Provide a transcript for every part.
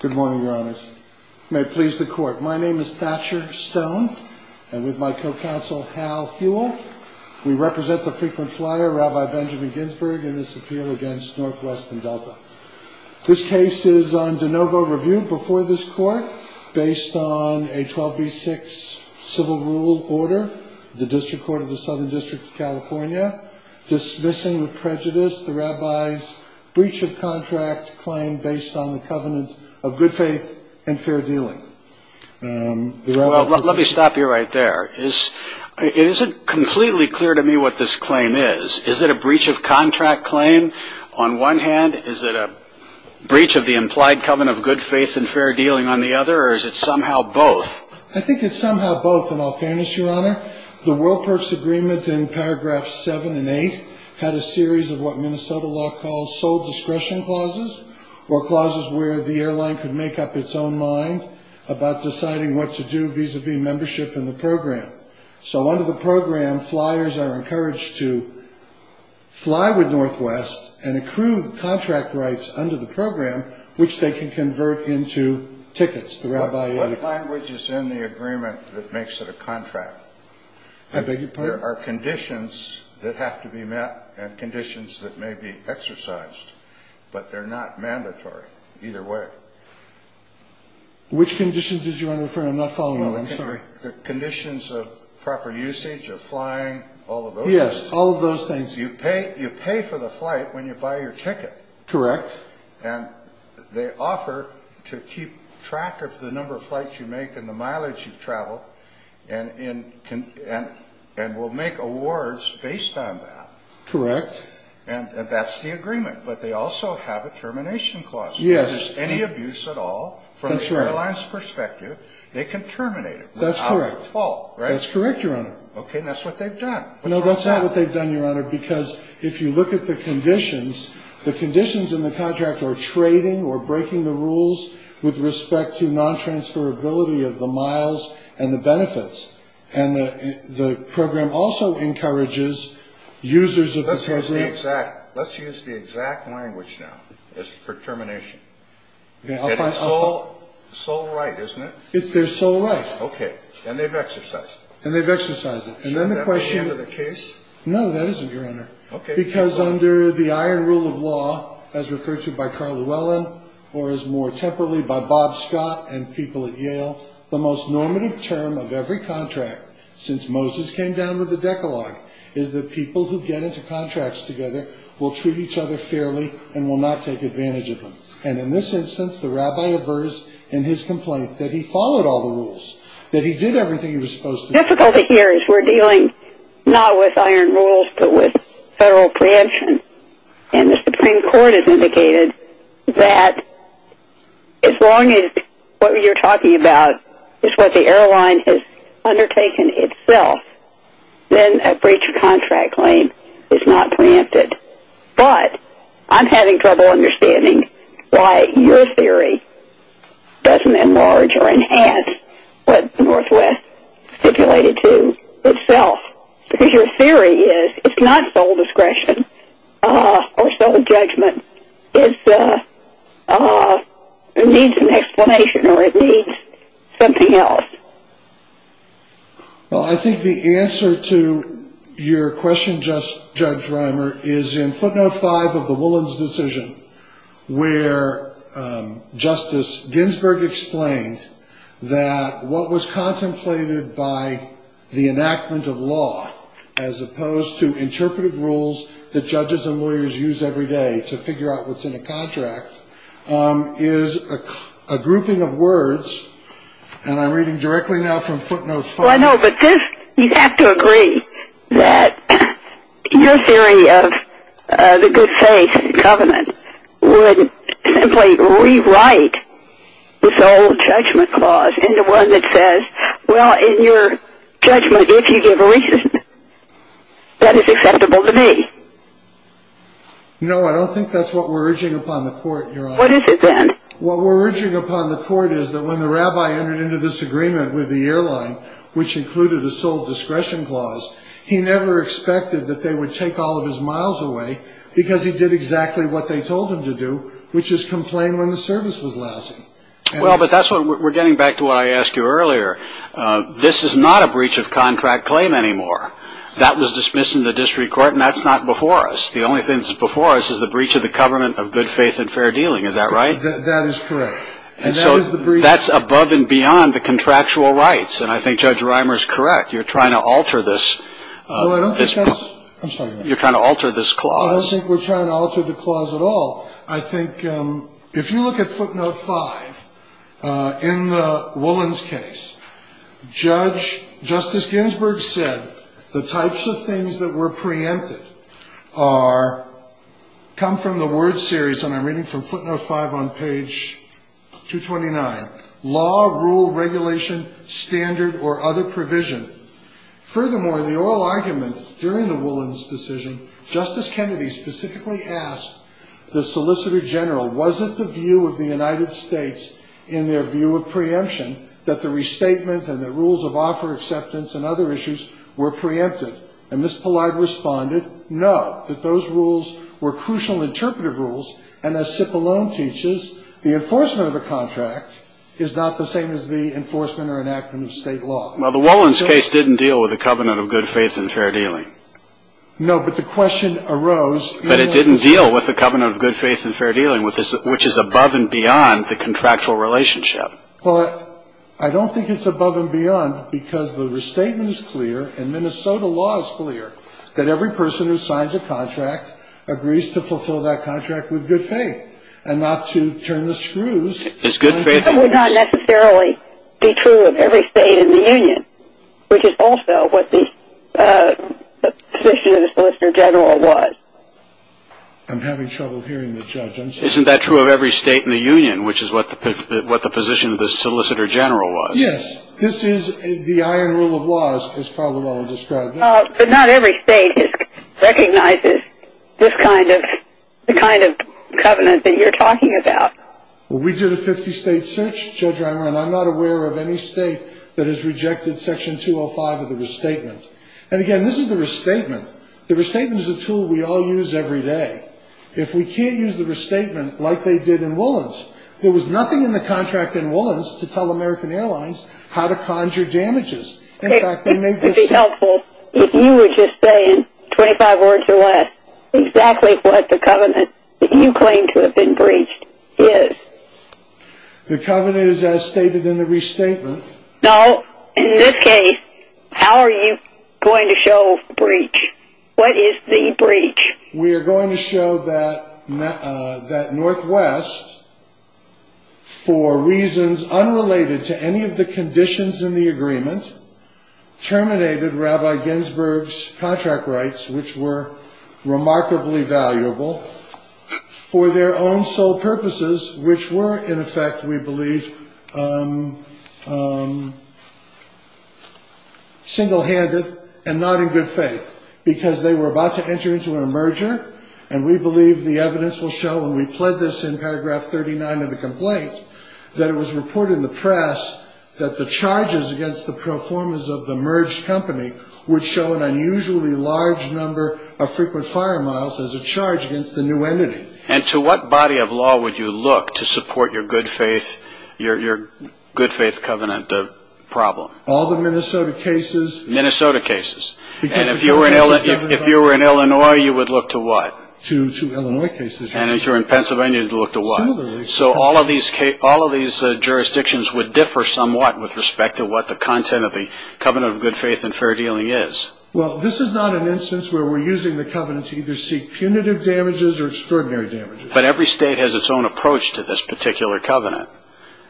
Good morning, Your Honors. May it please the Court, my name is Thatcher Stone, and with my co-counsel Hal Huell, we represent the Frequent Flyer, Rabbi Benjamin Ginsberg, in this appeal against Northwest and Delta. This case is on de novo review before this Court, based on a 12b-6 civil rule order, the District Court of the Southern District of California, dismissing with prejudice the Rabbi's breach of contract claim based on the covenant of good faith and fair dealing. Let me stop you right there. It isn't completely clear to me what this claim is. Is it a breach of contract claim on one hand? Is it a breach of the implied covenant of good faith and fair dealing on the other? Or is it somehow both? I think it's somehow both, in all fairness, Your Honor. The World Perks Agreement in paragraphs 7 and 8 had a series of what Minnesota law calls sole discretion clauses, or clauses where the airline could make up its own mind about deciding what to do vis-a-vis membership in the program. So under the program, flyers are encouraged to fly with Northwest and accrue the contract rights under the program, which they can convert into tickets. What language is in the agreement that makes it a contract? There are conditions that have to be met and conditions that may be exercised, but they're not mandatory either way. Which conditions is Your Honor referring to? I'm not following you, I'm sorry. The conditions of proper usage of flying, all of those things? Yes, all of those things. You pay for the flight when you buy your ticket. Correct. And they offer to keep track of the number of flights you make and the mileage you've traveled, and will make awards based on that. Correct. And that's the agreement, but they also have a termination clause. If there's any abuse at all from the airline's perspective, they can terminate it without fault, right? That's correct, Your Honor. Okay, and that's what they've done. No, that's not what they've done, Your Honor, because if you look at the conditions, the conditions in the contract are trading or breaking the rules with respect to non-transferability of the miles and the benefits. And the program also encourages users of the program... Let's use the exact language now as for termination. It's their sole right, isn't it? It's their sole right. Okay, and they've exercised it. And they've exercised it. Is that the end of the case? No, that isn't, Your Honor. Okay. Because under the Iron Rule of Law, as referred to by Carl Llewellyn, or as more temporarily by Bob Scott and people at Yale, the most normative term of every contract since Moses came down with the Decalogue is that people who get into contracts together will treat each other fairly and will not take advantage of them. And in this instance, the rabbi aversed in his complaint that he followed all the rules, that he did everything he was supposed to do. The difficulty here is we're dealing not with iron rules but with federal preemption. And the Supreme Court has indicated that as long as what you're talking about is what the airline has undertaken itself, then a breach of contract claim is not preempted. But I'm having trouble understanding why your theory doesn't enlarge or enhance what Northwest stipulated to itself. Because your theory is it's not sole discretion or sole judgment. It needs an explanation or it needs something else. Well, I think the answer to your question, Judge Reimer, is in footnote 5 of the Llewellyn's decision, where Justice Ginsburg explained that what was contemplated by the enactment of law, as opposed to interpretive rules that judges and lawyers use every day to figure out what's in a contract, is a grouping of words. And I'm reading directly now from footnote 5. Well, I know. But you have to agree that your theory of the good faith in government would simply rewrite the sole judgment clause into one that says, well, in your judgment, if you give a reason, that is acceptable to me. No, I don't think that's what we're urging upon the court, Your Honor. What is it then? What we're urging upon the court is that when the rabbi entered into this agreement with the airline, which included a sole discretion clause, he never expected that they would take all of his miles away because he did exactly what they told him to do, which is complain when the service was lousy. Well, but that's what we're getting back to what I asked you earlier. This is not a breach of contract claim anymore. That was dismissed in the district court, and that's not before us. The only thing that's before us is the breach of the government of good faith and fair dealing. Is that right? That is correct. And so that's above and beyond the contractual rights. And I think Judge Reimer is correct. You're trying to alter this. I'm sorry. You're trying to alter this clause. I don't think we're trying to alter the clause at all. I think if you look at footnote five, in the Woolens case, Justice Ginsburg said the types of things that were preempted come from the word series, and I'm reading from footnote five on page 229, law, rule, regulation, standard, or other provision. Furthermore, the oral argument during the Woolens decision, Justice Kennedy specifically asked the Solicitor General, wasn't the view of the United States in their view of preemption that the restatement and the rules of offer acceptance and other issues were preempted? And Ms. Pillai responded, no, that those rules were crucial interpretive rules, and as Cipollone teaches, the enforcement of a contract is not the same as the enforcement or enactment of state law. Well, the Woolens case didn't deal with the covenant of good faith and fair dealing. No, but the question arose. But it didn't deal with the covenant of good faith and fair dealing, which is above and beyond the contractual relationship. Well, I don't think it's above and beyond because the restatement is clear, and Minnesota law is clear that every person who signs a contract agrees to fulfill that contract with good faith and not to turn the screws. That would not necessarily be true of every state in the Union, which is also what the position of the Solicitor General was. I'm having trouble hearing the judge. Isn't that true of every state in the Union, which is what the position of the Solicitor General was? Yes, this is the iron rule of laws, as Cipollone described it. But not every state recognizes this kind of covenant that you're talking about. Well, we did a 50-state search, Judge Reimer, and I'm not aware of any state that has rejected Section 205 of the restatement. And again, this is the restatement. The restatement is a tool we all use every day. If we can't use the restatement like they did in Woolens, there was nothing in the contract in Woolens to tell American Airlines how to conjure damages. In fact, they made this statement. It would be helpful if you were just saying, 25 words or less, exactly what the covenant that you claim to have been breached is. The covenant is as stated in the restatement. No, in this case, how are you going to show breach? What is the breach? We are going to show that Northwest, terminated Rabbi Ginsberg's contract rights, which were remarkably valuable for their own sole purposes, which were, in effect, we believe, single-handed and not in good faith, because they were about to enter into a merger. And we believe the evidence will show, and we pled this in paragraph 39 of the complaint, that it was reported in the press that the charges against the performers of the merged company would show an unusually large number of frequent fire miles as a charge against the new entity. And to what body of law would you look to support your good faith covenant problem? All the Minnesota cases. Minnesota cases. And if you were in Illinois, you would look to what? To Illinois cases. And if you were in Pennsylvania, you would look to what? So all of these jurisdictions would differ somewhat with respect to what the content of the covenant of good faith and fair dealing is. Well, this is not an instance where we're using the covenant to either seek punitive damages or extraordinary damages. But every state has its own approach to this particular covenant.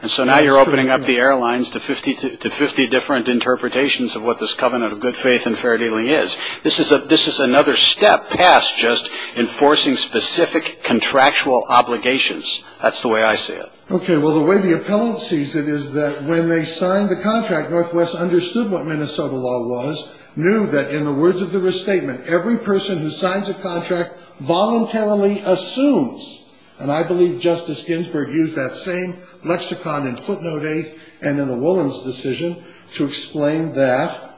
And so now you're opening up the airlines to 50 different interpretations of what this covenant of good faith and fair dealing is. This is another step past just enforcing specific contractual obligations. That's the way I see it. Okay. Well, the way the appellant sees it is that when they signed the contract, Northwest understood what Minnesota law was, knew that in the words of the restatement, every person who signs a contract voluntarily assumes, and I believe Justice Ginsburg used that same lexicon in footnote 8 and in the Woolens decision to explain that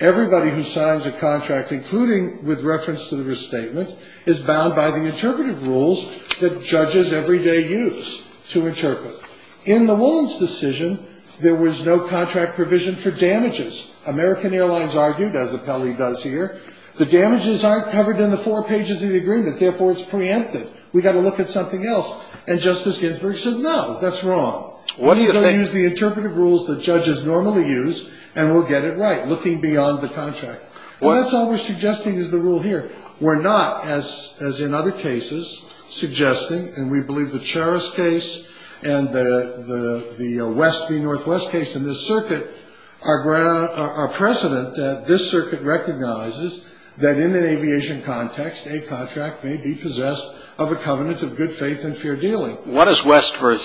everybody who signs a contract, including with reference to the restatement, is bound by the interpretive rules that judges every day use to interpret. In the Woolens decision, there was no contract provision for damages. American Airlines argued, as appellee does here, the damages aren't covered in the four pages of the agreement, therefore it's preempted. We've got to look at something else. And Justice Ginsburg said, no, that's wrong. We're going to use the interpretive rules that judges normally use, and we'll get it right, looking beyond the contract. Well, that's all we're suggesting is the rule here. We're not, as in other cases, suggesting, and we believe the Cherus case and the West v. Northwest case in this circuit are precedent that this circuit recognizes that in an aviation context, a contract may be possessed of a covenant of good faith and fair dealing. What does West v.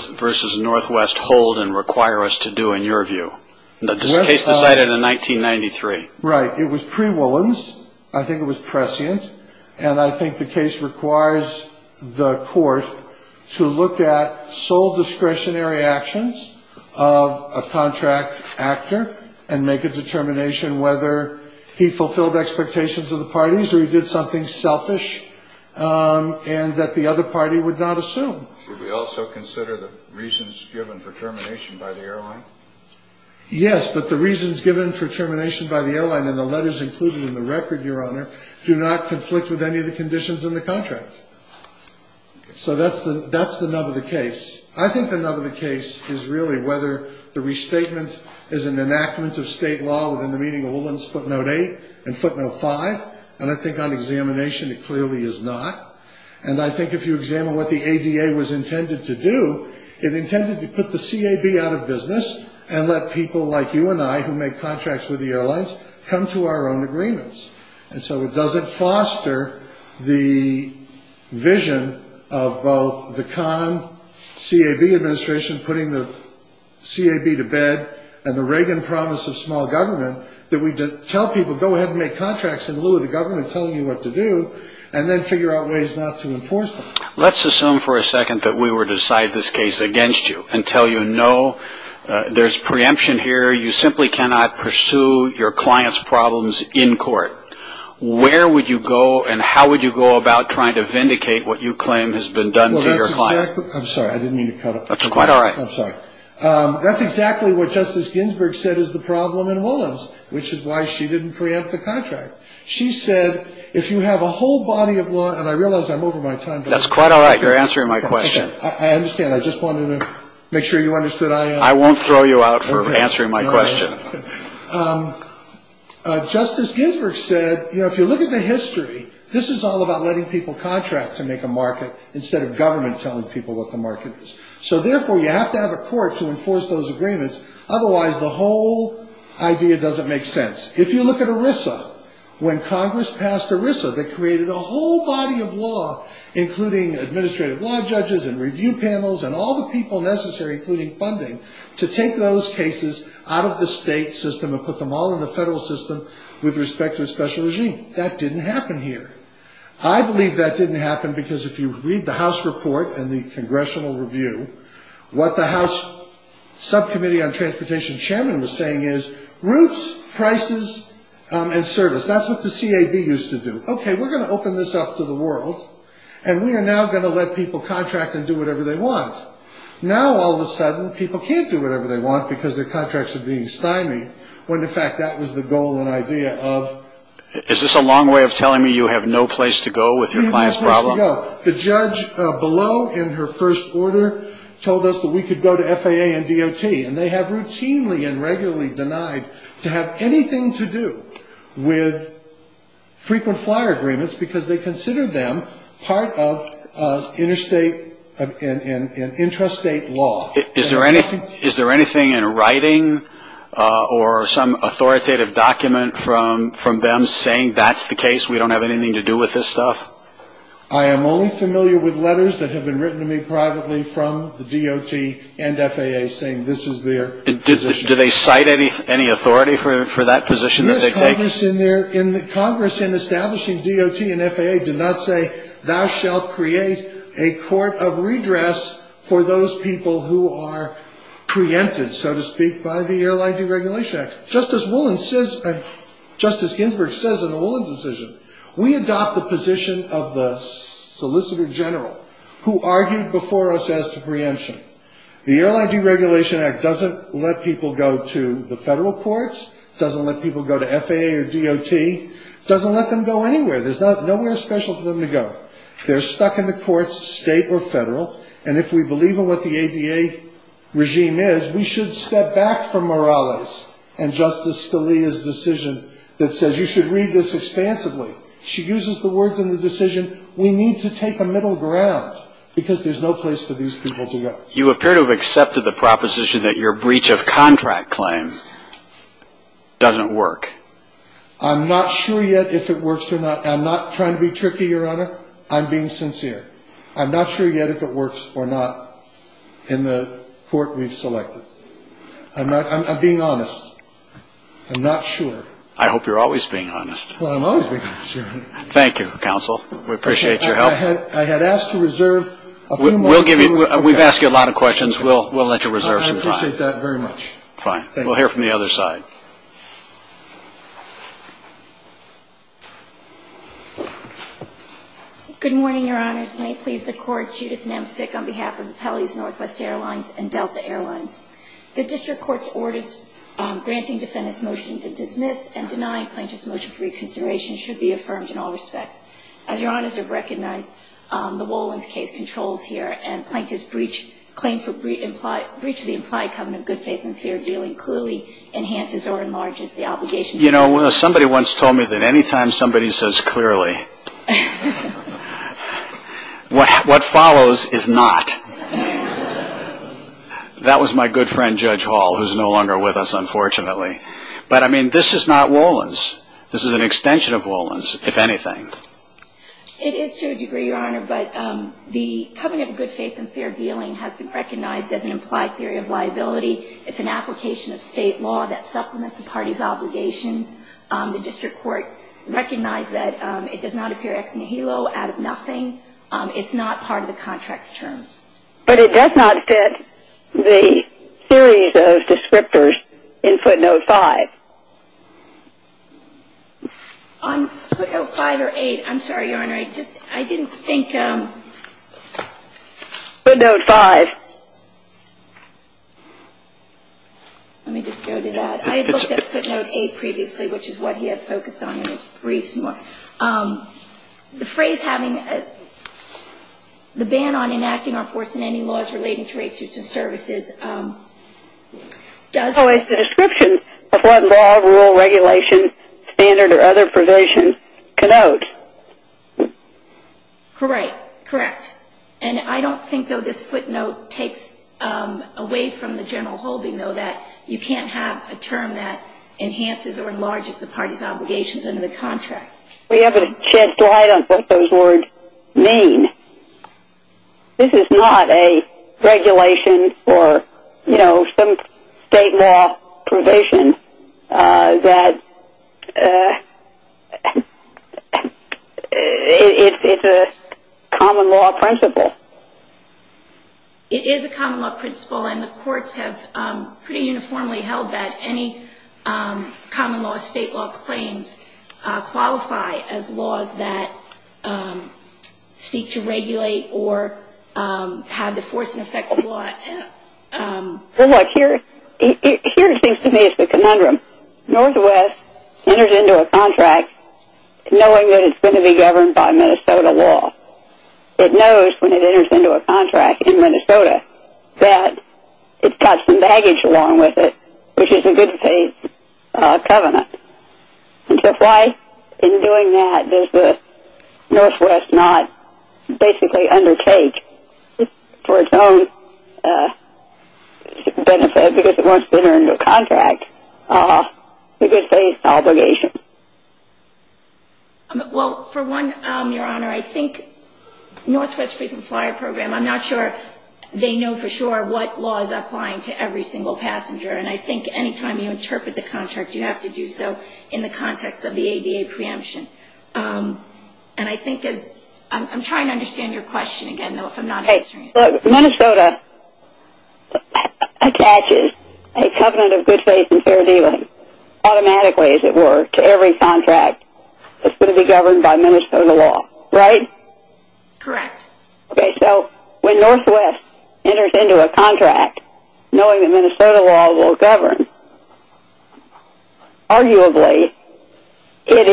Northwest hold and require us to do, in your view? This case decided in 1993. Right. It was pre-Woolens. I think it was prescient. And I think the case requires the court to look at sole discretionary actions of a contract actor and make a determination whether he fulfilled expectations of the parties or he did something selfish and that the other party would not assume. Should we also consider the reasons given for termination by the airline? Yes, but the reasons given for termination by the airline in the letters included in the record, Your Honor, do not conflict with any of the conditions in the contract. So that's the nub of the case. I think the nub of the case is really whether the restatement is an enactment of state law within the meaning of Woolens footnote 8 and footnote 5. And I think on examination it clearly is not. And I think if you examine what the ADA was intended to do, it intended to put the CAB out of business and let people like you and I, who make contracts with the airlines, come to our own agreements. And so it doesn't foster the vision of both the Khan-CAB administration putting the CAB to bed and the Reagan promise of small government that we tell people go ahead and make contracts in lieu of the government telling you what to do and then figure out ways not to enforce them. Let's assume for a second that we were to decide this case against you and tell you no, there's preemption here, you simply cannot pursue your client's problems in court. Where would you go and how would you go about trying to vindicate what you claim has been done to your client? I'm sorry, I didn't mean to cut off. That's quite all right. I'm sorry. That's exactly what Justice Ginsburg said is the problem in loans, which is why she didn't preempt the contract. She said if you have a whole body of law, and I realize I'm over my time. That's quite all right. You're answering my question. I understand. I just wanted to make sure you understood. I won't throw you out for answering my question. Justice Ginsburg said, you know, if you look at the history, this is all about letting people contract to make a market instead of government telling people what the market is. So therefore, you have to have a court to enforce those agreements. Otherwise, the whole idea doesn't make sense. If you look at ERISA, when Congress passed ERISA, they created a whole body of law, including administrative law judges and review panels and all the people necessary, including funding, to take those cases out of the state system and put them all in the federal system with respect to a special regime. That didn't happen here. I believe that didn't happen because if you read the House report and the congressional review, what the House Subcommittee on Transportation chairman was saying is roots, prices, and service. That's what the CAB used to do. Okay, we're going to open this up to the world, and we are now going to let people contract and do whatever they want. Now, all of a sudden, people can't do whatever they want because their contracts are being stymied, when, in fact, that was the goal and idea of. Is this a long way of telling me you have no place to go with your client's problem? No. The judge below in her first order told us that we could go to FAA and DOT, and they have routinely and regularly denied to have anything to do with frequent flyer agreements because they consider them part of interstate and intrastate law. Is there anything in writing or some authoritative document from them saying that's the case, we don't have anything to do with this stuff? I am only familiar with letters that have been written to me privately from the DOT and FAA saying this is their position. Do they cite any authority for that position that they take? Yes, Congress in establishing DOT and FAA did not say, thou shalt create a court of redress for those people who are preempted, so to speak, by the Airline Deregulation Act. Justice Ginsburg says in the Willans decision, we adopt the position of the solicitor general who argued before us as to preemption. The Airline Deregulation Act doesn't let people go to the federal courts, doesn't let people go to FAA or DOT, doesn't let them go anywhere. There's nowhere special for them to go. They're stuck in the courts, state or federal, and if we believe in what the ADA regime is, we should step back from Morales and Justice Scalia's decision that says you should read this expansively. She uses the words in the decision, we need to take a middle ground, because there's no place for these people to go. You appear to have accepted the proposition that your breach of contract claim doesn't work. I'm not sure yet if it works or not. I'm not trying to be tricky, Your Honor. I'm being sincere. I'm not sure yet if it works or not in the court we've selected. I'm being honest. I'm not sure. I hope you're always being honest. Well, I'm always being sincere. Thank you, Counsel. We appreciate your help. I had asked to reserve a few moments. We've asked you a lot of questions. We'll let you reserve some time. I appreciate that very much. Fine. We'll hear from the other side. Good morning, Your Honors. May it please the Court, Judith Nemcic on behalf of the Pelley's Northwest Airlines and Delta Airlines. The District Court's orders granting defendants' motion to dismiss and deny Plaintiff's motion for reconsideration should be affirmed in all respects. As Your Honors have recognized, the Wolins case controls here, and Plaintiff's claim for breach of the implied covenant of good faith and fair dealing clearly enhances or enlarges the obligation. You know, somebody once told me that any time somebody says clearly, what follows is not. That was my good friend, Judge Hall, who's no longer with us, unfortunately. But, I mean, this is not Wolins. This is an extension of Wolins, if anything. It is to a degree, Your Honor, but the covenant of good faith and fair dealing has been recognized as an implied theory of liability. It's an application of state law that supplements the party's obligations. The District Court recognized that it does not appear ex nihilo, out of nothing. It's not part of the contract's terms. But it does not fit the series of descriptors in footnote 5. On footnote 5 or 8, I'm sorry, Your Honor, I didn't think. Footnote 5. Let me just go to that. I had looked at footnote 8 previously, which is what he had focused on in his briefs. The phrase having the ban on enacting or enforcing any laws relating to rape suits and services does. That's always the description of what law, rule, regulation, standard, or other provision can out. Correct. Correct. And I don't think, though, this footnote takes away from the general holding, though, that you can't have a term that enhances or enlarges the party's obligations under the contract. We haven't shed light on what those words mean. This is not a regulation or, you know, some state law provision that it's a common law principle. It is a common law principle, and the courts have pretty uniformly held that any common law state law claims qualify as laws that seek to regulate or have the force and effect of law. Well, look, here it seems to me it's a conundrum. Northwest enters into a contract knowing that it's going to be governed by Minnesota law. It knows when it enters into a contract in Minnesota that it's got some baggage along with it, which is a good faith covenant. And so why in doing that does the Northwest not basically undertake for its own benefit, because it wants to enter into a contract, a good faith obligation? Well, for one, Your Honor, I think Northwest Frequent Flyer Program, I'm not sure they know for sure what law is applying to every single passenger, and I think any time you interpret the contract, you have to do so in the context of the ADA preemption. And I think as I'm trying to understand your question again, though, if I'm not answering it. Look, Minnesota attaches a covenant of good faith and fair dealing automatically, as it were, to every contract that's going to be governed by Minnesota law, right? Correct. Okay, so when Northwest enters into a contract knowing that Minnesota law will govern, arguably it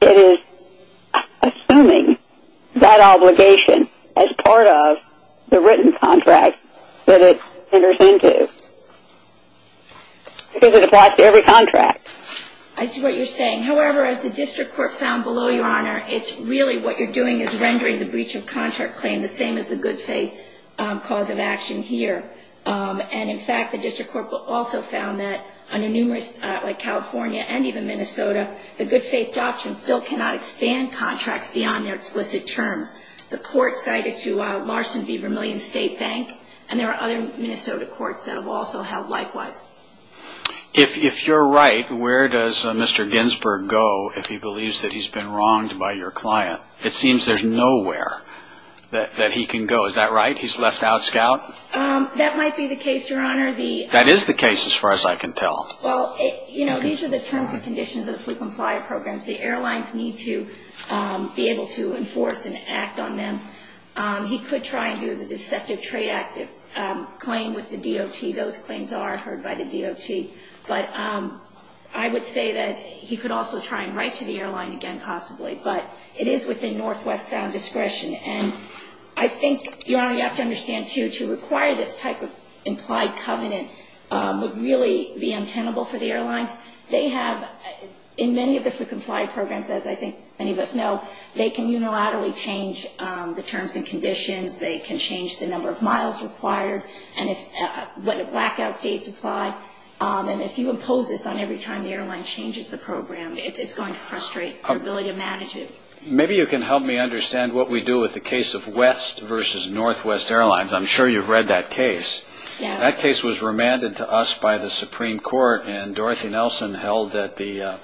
is assuming that obligation as part of the written contract that it enters into, because it applies to every contract. I see what you're saying. However, as the district court found below, Your Honor, it's really what you're doing is rendering the breach of contract claim the same as the good faith cause of action here. And in fact, the district court also found that under numerous, like California and even Minnesota, the good faith doctrine still cannot expand contracts beyond their explicit terms. The court cited to Larson v. Vermillion State Bank, and there are other Minnesota courts that have also held likewise. If you're right, where does Mr. Ginsburg go if he believes that he's been wronged by your client? It seems there's nowhere that he can go. Is that right? He's left out, Scout? That might be the case, Your Honor. That is the case as far as I can tell. Well, you know, these are the terms and conditions of the fluke and flyer programs. The airlines need to be able to enforce and act on them. He could try and do the Deceptive Trade Act claim with the DOT. Those claims are heard by the DOT. But I would say that he could also try and write to the airline again, possibly. But it is within Northwest's discretion. And I think, Your Honor, you have to understand, too, to require this type of implied covenant would really be untenable for the airlines. They have, in many of the fluke and flyer programs, as I think many of us know, they can unilaterally change the terms and conditions. They can change the number of miles required and what the blackout dates apply. And if you impose this on every time the airline changes the program, it's going to frustrate our ability to manage it. Maybe you can help me understand what we do with the case of West versus Northwest Airlines. I'm sure you've read that case. That case was remanded to us by the Supreme Court. And Dorothy Nelson held that the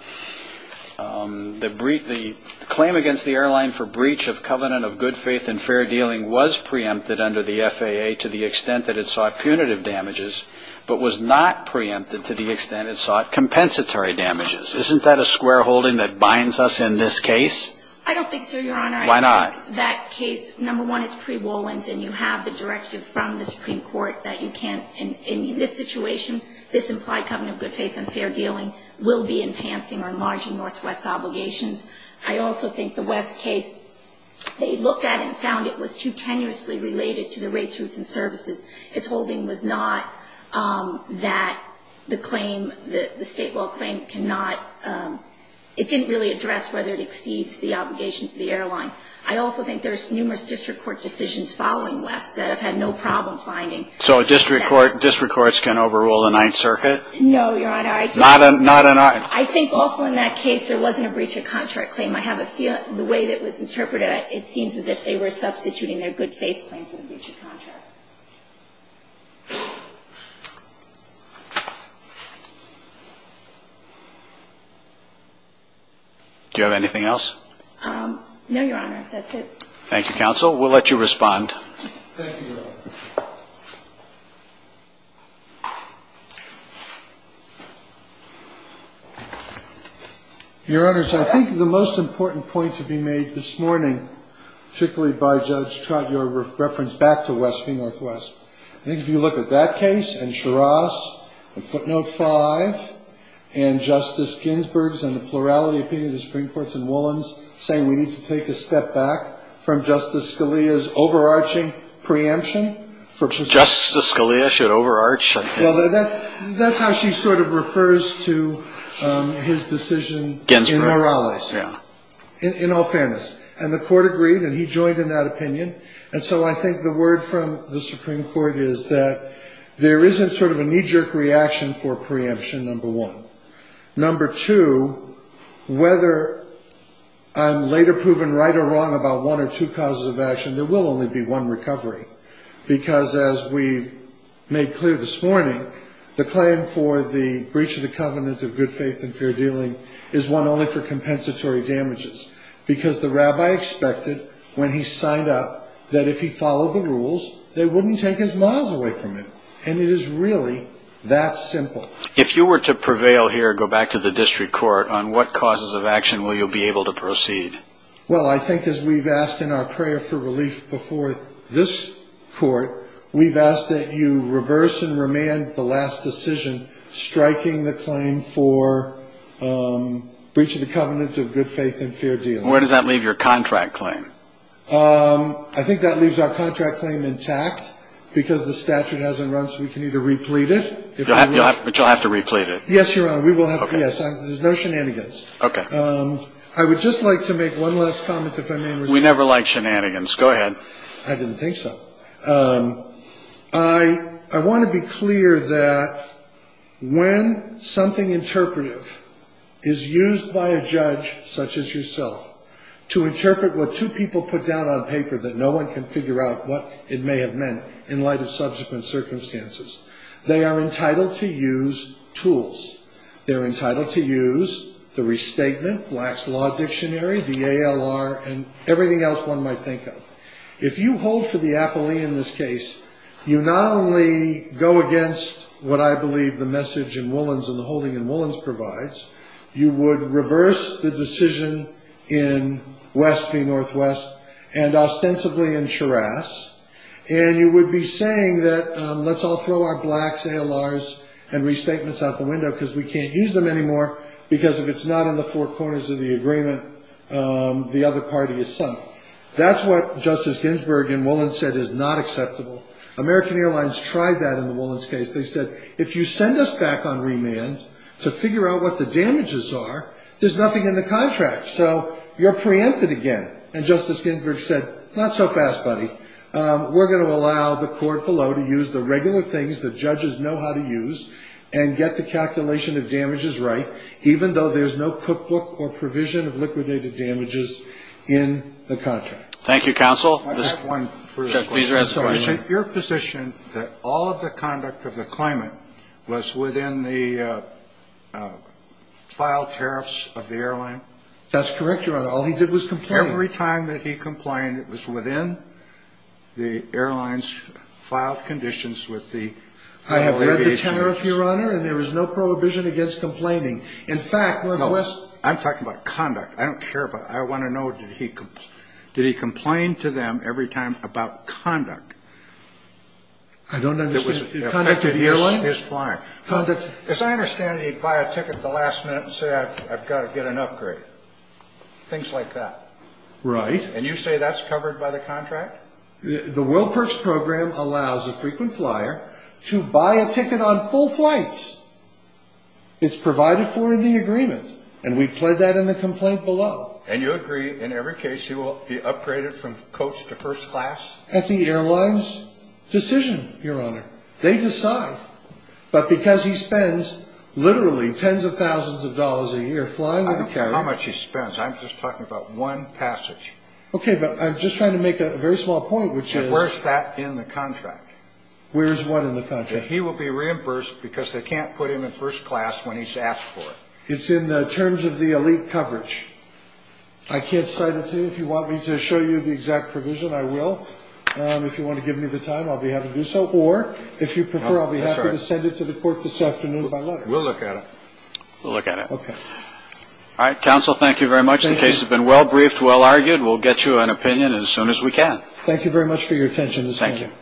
claim against the airline for breach of covenant of good faith and fair dealing was preempted under the FAA to the extent that it sought punitive damages but was not preempted to the extent it sought compensatory damages. Isn't that a square holding that binds us in this case? I don't think so, Your Honor. Why not? I think that case, number one, it's pre-Wolins, and you have the directive from the Supreme Court that you can't, in this situation, this implied covenant of good faith and fair dealing will be enhancing or enlarging Northwest's obligations. I also think the West case, they looked at it and found it was too tenuously related to the rates, routes and services. Its holding was not that the claim, the state law claim cannot, it didn't really address whether it exceeds the obligation to the airline. I also think there's numerous district court decisions following West that have had no problem finding that. So district courts can overrule the Ninth Circuit? No, Your Honor. Not in our. I think also in that case there wasn't a breach of contract claim. I have a feeling, the way it was interpreted, it seems as if they were substituting their good faith claim for the breach of contract. Do you have anything else? No, Your Honor. That's it. Thank you, counsel. We'll let you respond. Thank you, Your Honor. Your Honor, so I think the most important point to be made this morning, particularly by Judge Trott, your reference back to West v. Northwest. I think if you look at that case and Shiras and footnote 5 and Justice Ginsburg's and the plurality of opinion of the Supreme Court and Wolin's saying we need to take a step back from Justice Scalia's overarching preemption, Justice Scalia should overarch? Well, that's how she sort of refers to his decision in Morales, in all fairness. And the court agreed and he joined in that opinion. And so I think the word from the Supreme Court is that there isn't sort of a knee-jerk reaction for preemption, number one. Number two, whether I'm later proven right or wrong about one or two causes of action, there will only be one recovery. Because as we've made clear this morning, the claim for the breach of the covenant of good faith and fair dealing is one only for compensatory damages. Because the rabbi expected when he signed up that if he followed the rules, they wouldn't take his miles away from him. And it is really that simple. If you were to prevail here, go back to the district court, on what causes of action will you be able to proceed? Well, I think as we've asked in our prayer for relief before this court, we've asked that you reverse and remand the last decision, striking the claim for breach of the covenant of good faith and fair dealing. Where does that leave your contract claim? I think that leaves our contract claim intact. Because the statute hasn't run, so we can either replete it. But you'll have to replete it. Yes, Your Honor. We will have to. There's no shenanigans. Okay. I would just like to make one last comment, if I may. We never like shenanigans. Go ahead. I didn't think so. I want to be clear that when something interpretive is used by a judge, such as yourself, to interpret what two people put down on paper, that no one can figure out what it may have meant in light of subsequent circumstances. They are entitled to use tools. They're entitled to use the restatement, Black's Law Dictionary, the ALR, and everything else one might think of. If you hold for the appellee in this case, you not only go against what I believe the message in Woollens and the holding in Woollens provides, you would reverse the decision in West v. Northwest and ostensibly in Charas, and you would be saying that let's all throw our Blacks, ALRs, and restatements out the window because we can't use them anymore because if it's not in the four corners of the agreement, the other party is sunk. That's what Justice Ginsburg in Woollens said is not acceptable. American Airlines tried that in the Woollens case. They said, if you send us back on remand to figure out what the damages are, there's nothing in the contract, so you're preempted again. And Justice Ginsburg said, not so fast, buddy. We're going to allow the court below to use the regular things the judges know how to use and get the calculation of damages right, even though there's no cookbook or provision of liquidated damages in the contract. Thank you, counsel. I have one for you. Your position that all of the conduct of the claimant was within the filed tariffs of the airline? That's correct, Your Honor. All he did was complain. Every time that he complained, it was within the airline's filed conditions with the aviation. I have read the tariff, Your Honor, and there was no prohibition against complaining. In fact, we're blessed. I'm talking about conduct. I don't care about it. I want to know, did he complain to them every time about conduct? I don't understand. It affected his flying. As I understand it, he'd buy a ticket at the last minute and say, I've got to get an upgrade, things like that. Right. And you say that's covered by the contract? The World Perks Program allows a frequent flyer to buy a ticket on full flights. It's provided for in the agreement, and we pled that in the complaint below. And you agree in every case he will be upgraded from coach to first class? At the airline's decision, Your Honor. They decide. But because he spends literally tens of thousands of dollars a year flying with a carrier. I don't care how much he spends. I'm just talking about one passage. Okay, but I'm just trying to make a very small point, which is. And where's that in the contract? Where's what in the contract? That he will be reimbursed because they can't put him in first class when he's asked for it. It's in the terms of the elite coverage. I can't cite it to you. If you want me to show you the exact provision, I will. If you want to give me the time, I'll be happy to do so. Or if you prefer, I'll be happy to send it to the court this afternoon by letter. We'll look at it. We'll look at it. Okay. All right, counsel, thank you very much. The case has been well briefed, well argued. We'll get you an opinion as soon as we can. Thank you very much for your attention this morning. Thank you.